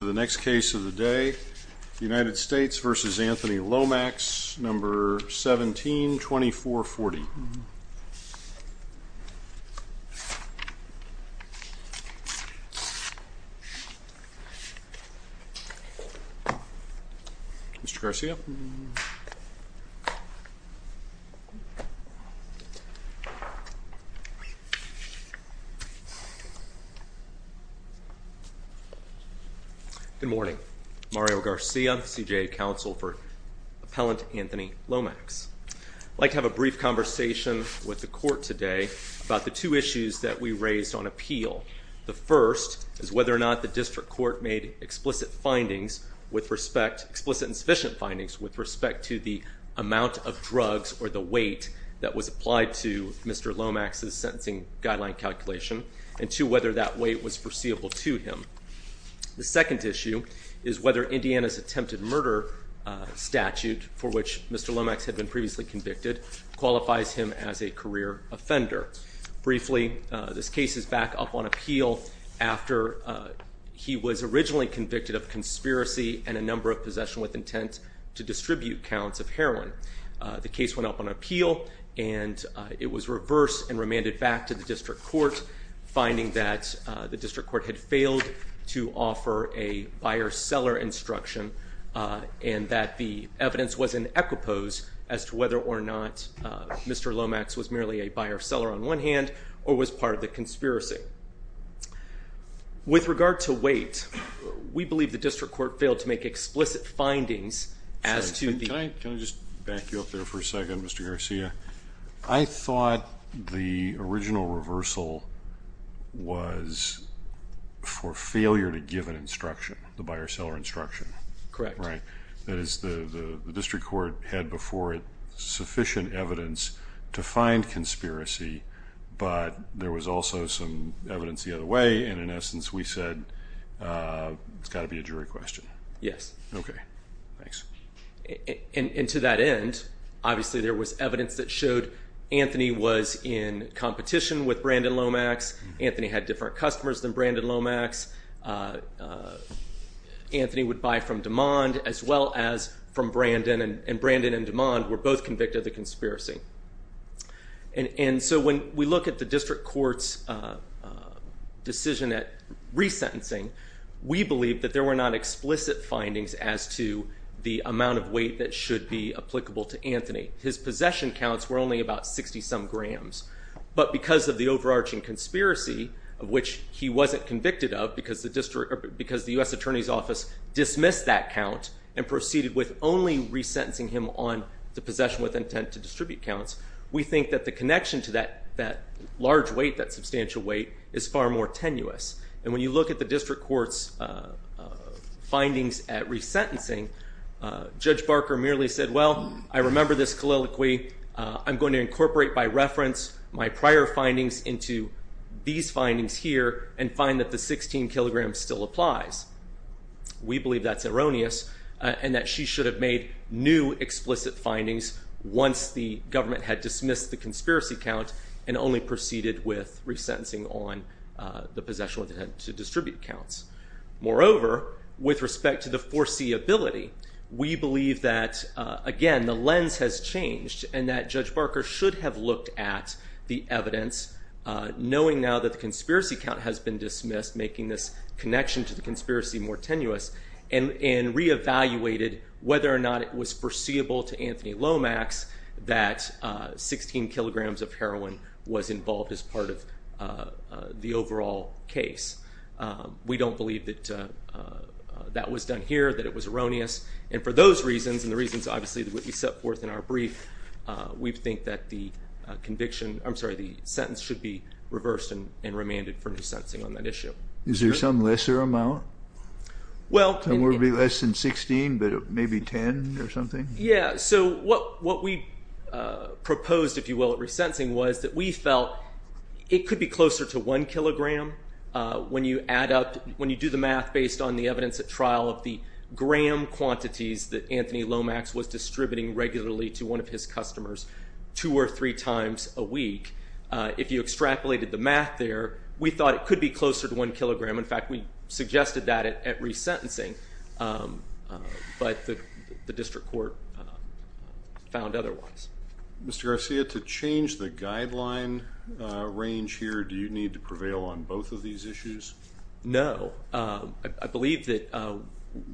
The next case of the day, United States v. Anthony Lomax, No. 17-2440. Mr. Garcia? Good morning. Mario Garcia, CJA Counsel for Appellant Anthony Lomax. I'd like to have a brief conversation with the court today about the two issues that we raised on appeal. The first is whether or not the district court made explicit and sufficient findings with respect to the amount of drugs or the weight that was applied to Mr. Lomax's sentencing guideline calculation, and two, whether that weight was foreseeable to him. The second issue is whether Indiana's attempted murder statute, for which Mr. Lomax had been previously convicted, qualifies him as a career offender. Briefly, this case is back up on appeal after he was originally convicted of conspiracy and a number of possession with intent to distribute counts of heroin. The case went up on appeal, and it was reversed and remanded back to the district court, finding that the district court had failed to offer a buyer-seller instruction and that the evidence was in equipoise as to whether or not Mr. Lomax was merely a buyer-seller on one hand or was part of the conspiracy. With regard to weight, we believe the district court failed to make explicit findings as to the- Can I just back you up there for a second, Mr. Garcia? I thought the original reversal was for failure to give an instruction, the buyer-seller instruction. Correct. Right. That is, the district court had before it sufficient evidence to find conspiracy, but there was also some evidence the other way, and in essence, we said it's got to be a jury question. Yes. Okay. Thanks. And to that end, obviously, there was evidence that showed Anthony was in competition with Brandon Lomax. Anthony had different customers than Brandon Lomax. Anthony would buy from DeMond as well as from Brandon, and Brandon and DeMond were both convicted of the conspiracy, and so when we look at the district court's decision at resentencing, we believe that there were not explicit findings as to the amount of weight that should be applicable to Anthony. His possession counts were only about 60-some grams, but because of the overarching conspiracy of which he wasn't convicted of because the U.S. Attorney's Office dismissed that count and proceeded with only resentencing him on the possession with intent to distribute counts, we think that the connection to that large weight, that substantial weight, is far more tenuous, and when you look at the district court's findings at resentencing, Judge Barker merely said, well, I remember this colloquy. I'm going to incorporate by reference my prior findings into these findings here and find that the 16 kilograms still applies. We believe that's erroneous and that she should have made new explicit findings once the government had dismissed the conspiracy count and only proceeded with resentencing on the possession with intent to distribute counts. Moreover, with respect to the foreseeability, we believe that, again, the lens has changed and that Judge Barker should have looked at the evidence, knowing now that the conspiracy count has been dismissed, making this connection to the conspiracy more tenuous, and reevaluated whether or not it was foreseeable to Anthony Lomax that 16 kilograms of heroin was involved as part of the overall case. We don't believe that that was done here, that it was erroneous, and for those reasons and the reasons, obviously, that would be set forth in our brief, we think that the conviction, I'm sorry, the sentence should be reversed and remanded for resentencing on that issue. Is there some lesser amount? Well... Some would be less than 16, but maybe 10 or something? Yeah, so what we proposed, if you will, at resentencing was that we felt it could be When you add up, when you do the math based on the evidence at trial of the gram quantities that Anthony Lomax was distributing regularly to one of his customers two or three times a week, if you extrapolated the math there, we thought it could be closer to one kilogram. In fact, we suggested that at resentencing, but the district court found otherwise. Mr. Garcia, to change the guideline range here, do you need to prevail on both of these issues? No. I believe that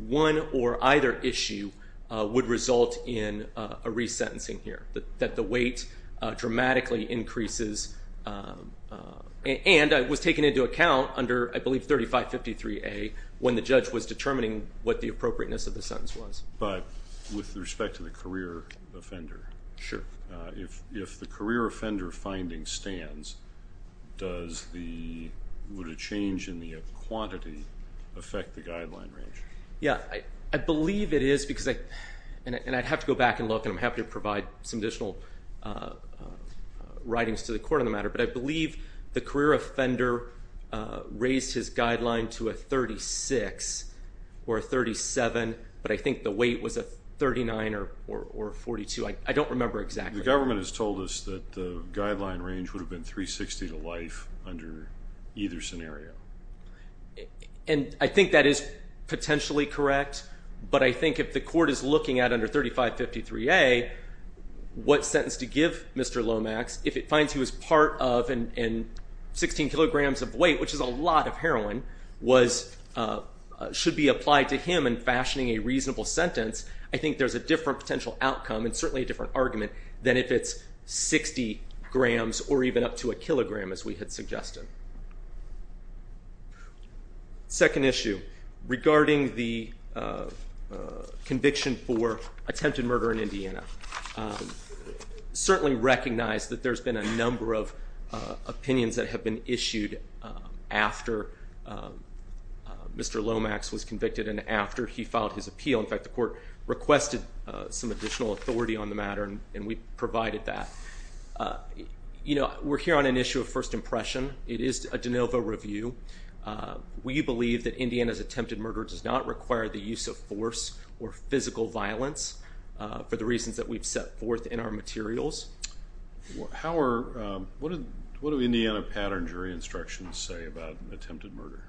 one or either issue would result in a resentencing here, that the weight dramatically increases and was taken into account under, I believe, 3553A when the judge was determining what the appropriateness of the sentence was. But with respect to the career offender, if the career offender finding stands, does the change in the quantity affect the guideline range? Yeah. I believe it is because, and I'd have to go back and look, and I'm happy to provide some additional writings to the court on the matter, but I believe the career offender raised his weight was a 39 or 42. I don't remember exactly. The government has told us that the guideline range would have been 360 to life under either scenario. And I think that is potentially correct, but I think if the court is looking at under 3553A, what sentence to give Mr. Lomax, if it finds he was part of, and 16 kilograms of weight, which is a lot of heroin, should be applied to him in fashioning a reasonable sentence, I think there's a different potential outcome and certainly a different argument than if it's 60 grams or even up to a kilogram, as we had suggested. Second issue, regarding the conviction for attempted murder in Indiana. Certainly recognize that there's been a number of opinions that have been issued after Mr. Lomax was convicted and after he filed his appeal. In fact, the court requested some additional authority on the matter and we provided that. We're here on an issue of first impression. It is a de novo review. We believe that Indiana's attempted murder does not require the use of force or physical violence for the reasons that we've set forth in our materials. How are, what do Indiana pattern jury instructions say about an attempted murder?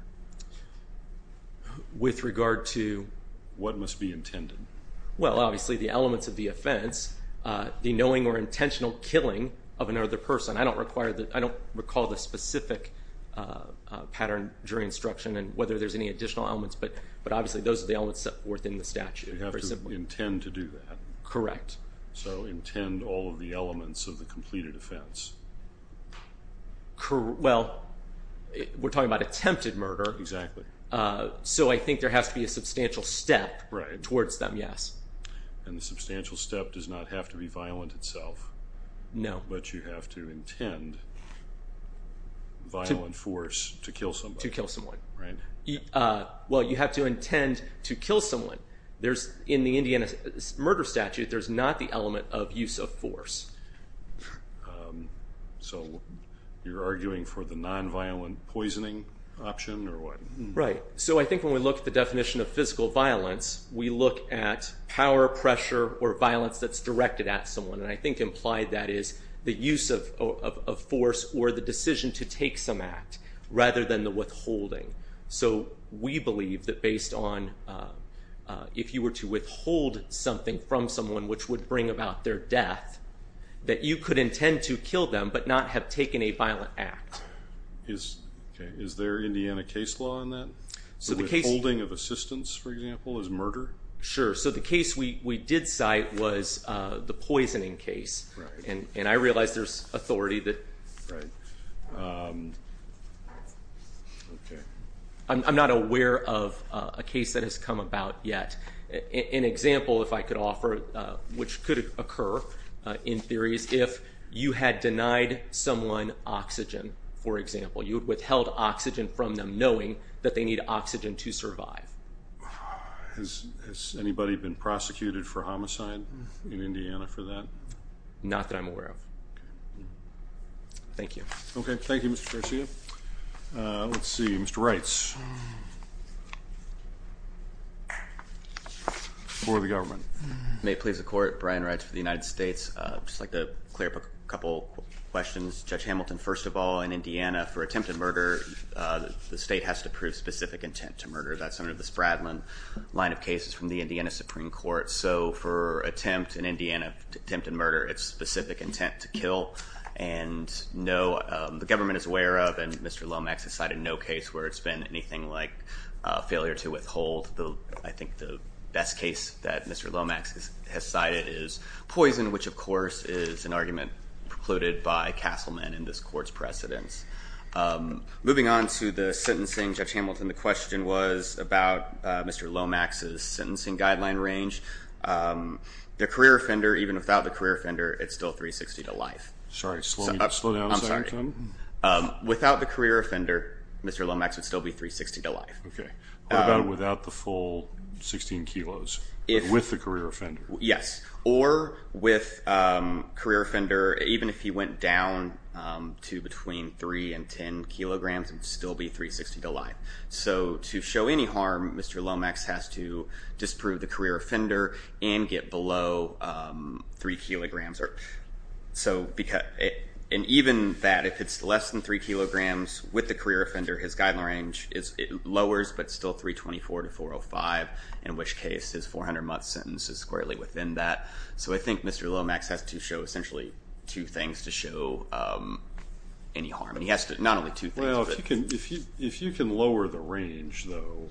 With regard to? What must be intended? Well, obviously the elements of the offense, the knowing or intentional killing of another person. I don't require, I don't recall the specific pattern jury instruction and whether there's any additional elements, but obviously those are the elements set forth in the statute. So you have to intend to do that. Correct. So intend all of the elements of the completed offense. Well, we're talking about attempted murder. Exactly. So I think there has to be a substantial step towards them, yes. And the substantial step does not have to be violent itself. No. But you have to intend violent force to kill somebody. To kill someone. Right. Well, you have to intend to kill someone. In the Indiana murder statute, there's not the element of use of force. So you're arguing for the non-violent poisoning option or what? Right. So I think when we look at the definition of physical violence, we look at power, pressure, or violence that's directed at someone, and I think implied that is the use of force or the decision to take some act rather than the withholding. So we believe that based on, if you were to withhold something from someone which would bring about their death, that you could intend to kill them but not have taken a violent act. Is there Indiana case law on that? So withholding of assistance, for example, is murder? Sure. So the case we did cite was the poisoning case. And I realize there's authority that... I'm not aware of a case that has come about yet. An example if I could offer, which could occur in theory, is if you had denied someone oxygen, for example. You had withheld oxygen from them knowing that they need oxygen to survive. Has anybody been prosecuted for homicide in Indiana for that? Not that I'm aware of. Thank you. Okay. Thank you, Mr. Garcia. Let's see. Mr. Reitz. For the government. May it please the court, Brian Reitz for the United States. I'd just like to clear up a couple questions. Judge Hamilton, first of all, in Indiana, for attempted murder, the state has to prove specific intent to murder. That's under the Spradlin line of cases from the Indiana Supreme Court. So for attempt in Indiana, attempted murder, it's specific intent to kill. And the government is aware of, and Mr. Lomax has cited no case where it's been anything like failure to withhold. I think the best case that Mr. Lomax has cited is poison, which of course is an argument precluded by Castleman in this court's precedence. Moving on to the sentencing, Judge Hamilton, the question was about Mr. Lomax's sentencing guideline range. The career offender, even without the career offender, it's still 360 to life. Sorry, slow down a second. Without the career offender, Mr. Lomax would still be 360 to life. Okay. What about without the full 16 kilos? With the career offender? Yes. Or with career offender, even if he went down to between 3 and 10 kilograms, it would still be 360 to life. So to show any harm, Mr. Lomax has to disprove the career offender and get below 3 kilograms. And even that, if it's less than 3 kilograms with the career offender, his guideline range it lowers, but still 324 to 405, in which case his 400 month sentence is squarely within that. So I think Mr. Lomax has to show essentially two things to show any harm, and he has to not only two things. Well, if you can lower the range, though,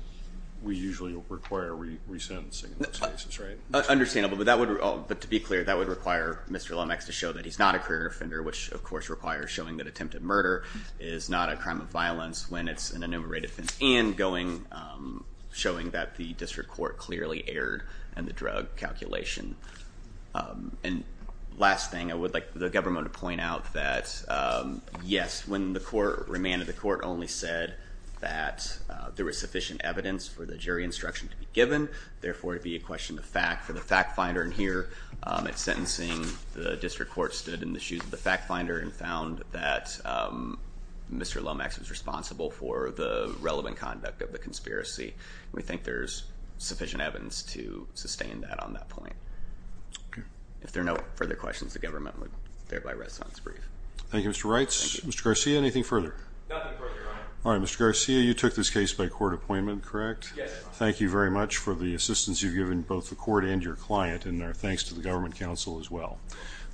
we usually require resentencing in those cases, right? Understandable, but to be clear, that would require Mr. Lomax to show that he's not a career offender, which of course requires showing that attempted murder is not a crime of violence when it's an enumerated offense, and showing that the district court clearly erred in the drug calculation. And last thing, I would like the government to point out that, yes, when the court remanded, the court only said that there was sufficient evidence for the jury instruction to be given, therefore it would be a question of fact. For the fact finder in here, at sentencing, the district court stood in the shoes of the for the relevant conduct of the conspiracy, and we think there's sufficient evidence to sustain that on that point. If there are no further questions, the government would thereby rest on its brief. Thank you, Mr. Wrights. Thank you. Mr. Garcia, anything further? Nothing further, Your Honor. All right, Mr. Garcia, you took this case by court appointment, correct? Yes, Your Honor. Thank you very much for the assistance you've given both the court and your client, and our thanks to the government counsel as well.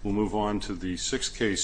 We'll move on to the sixth case.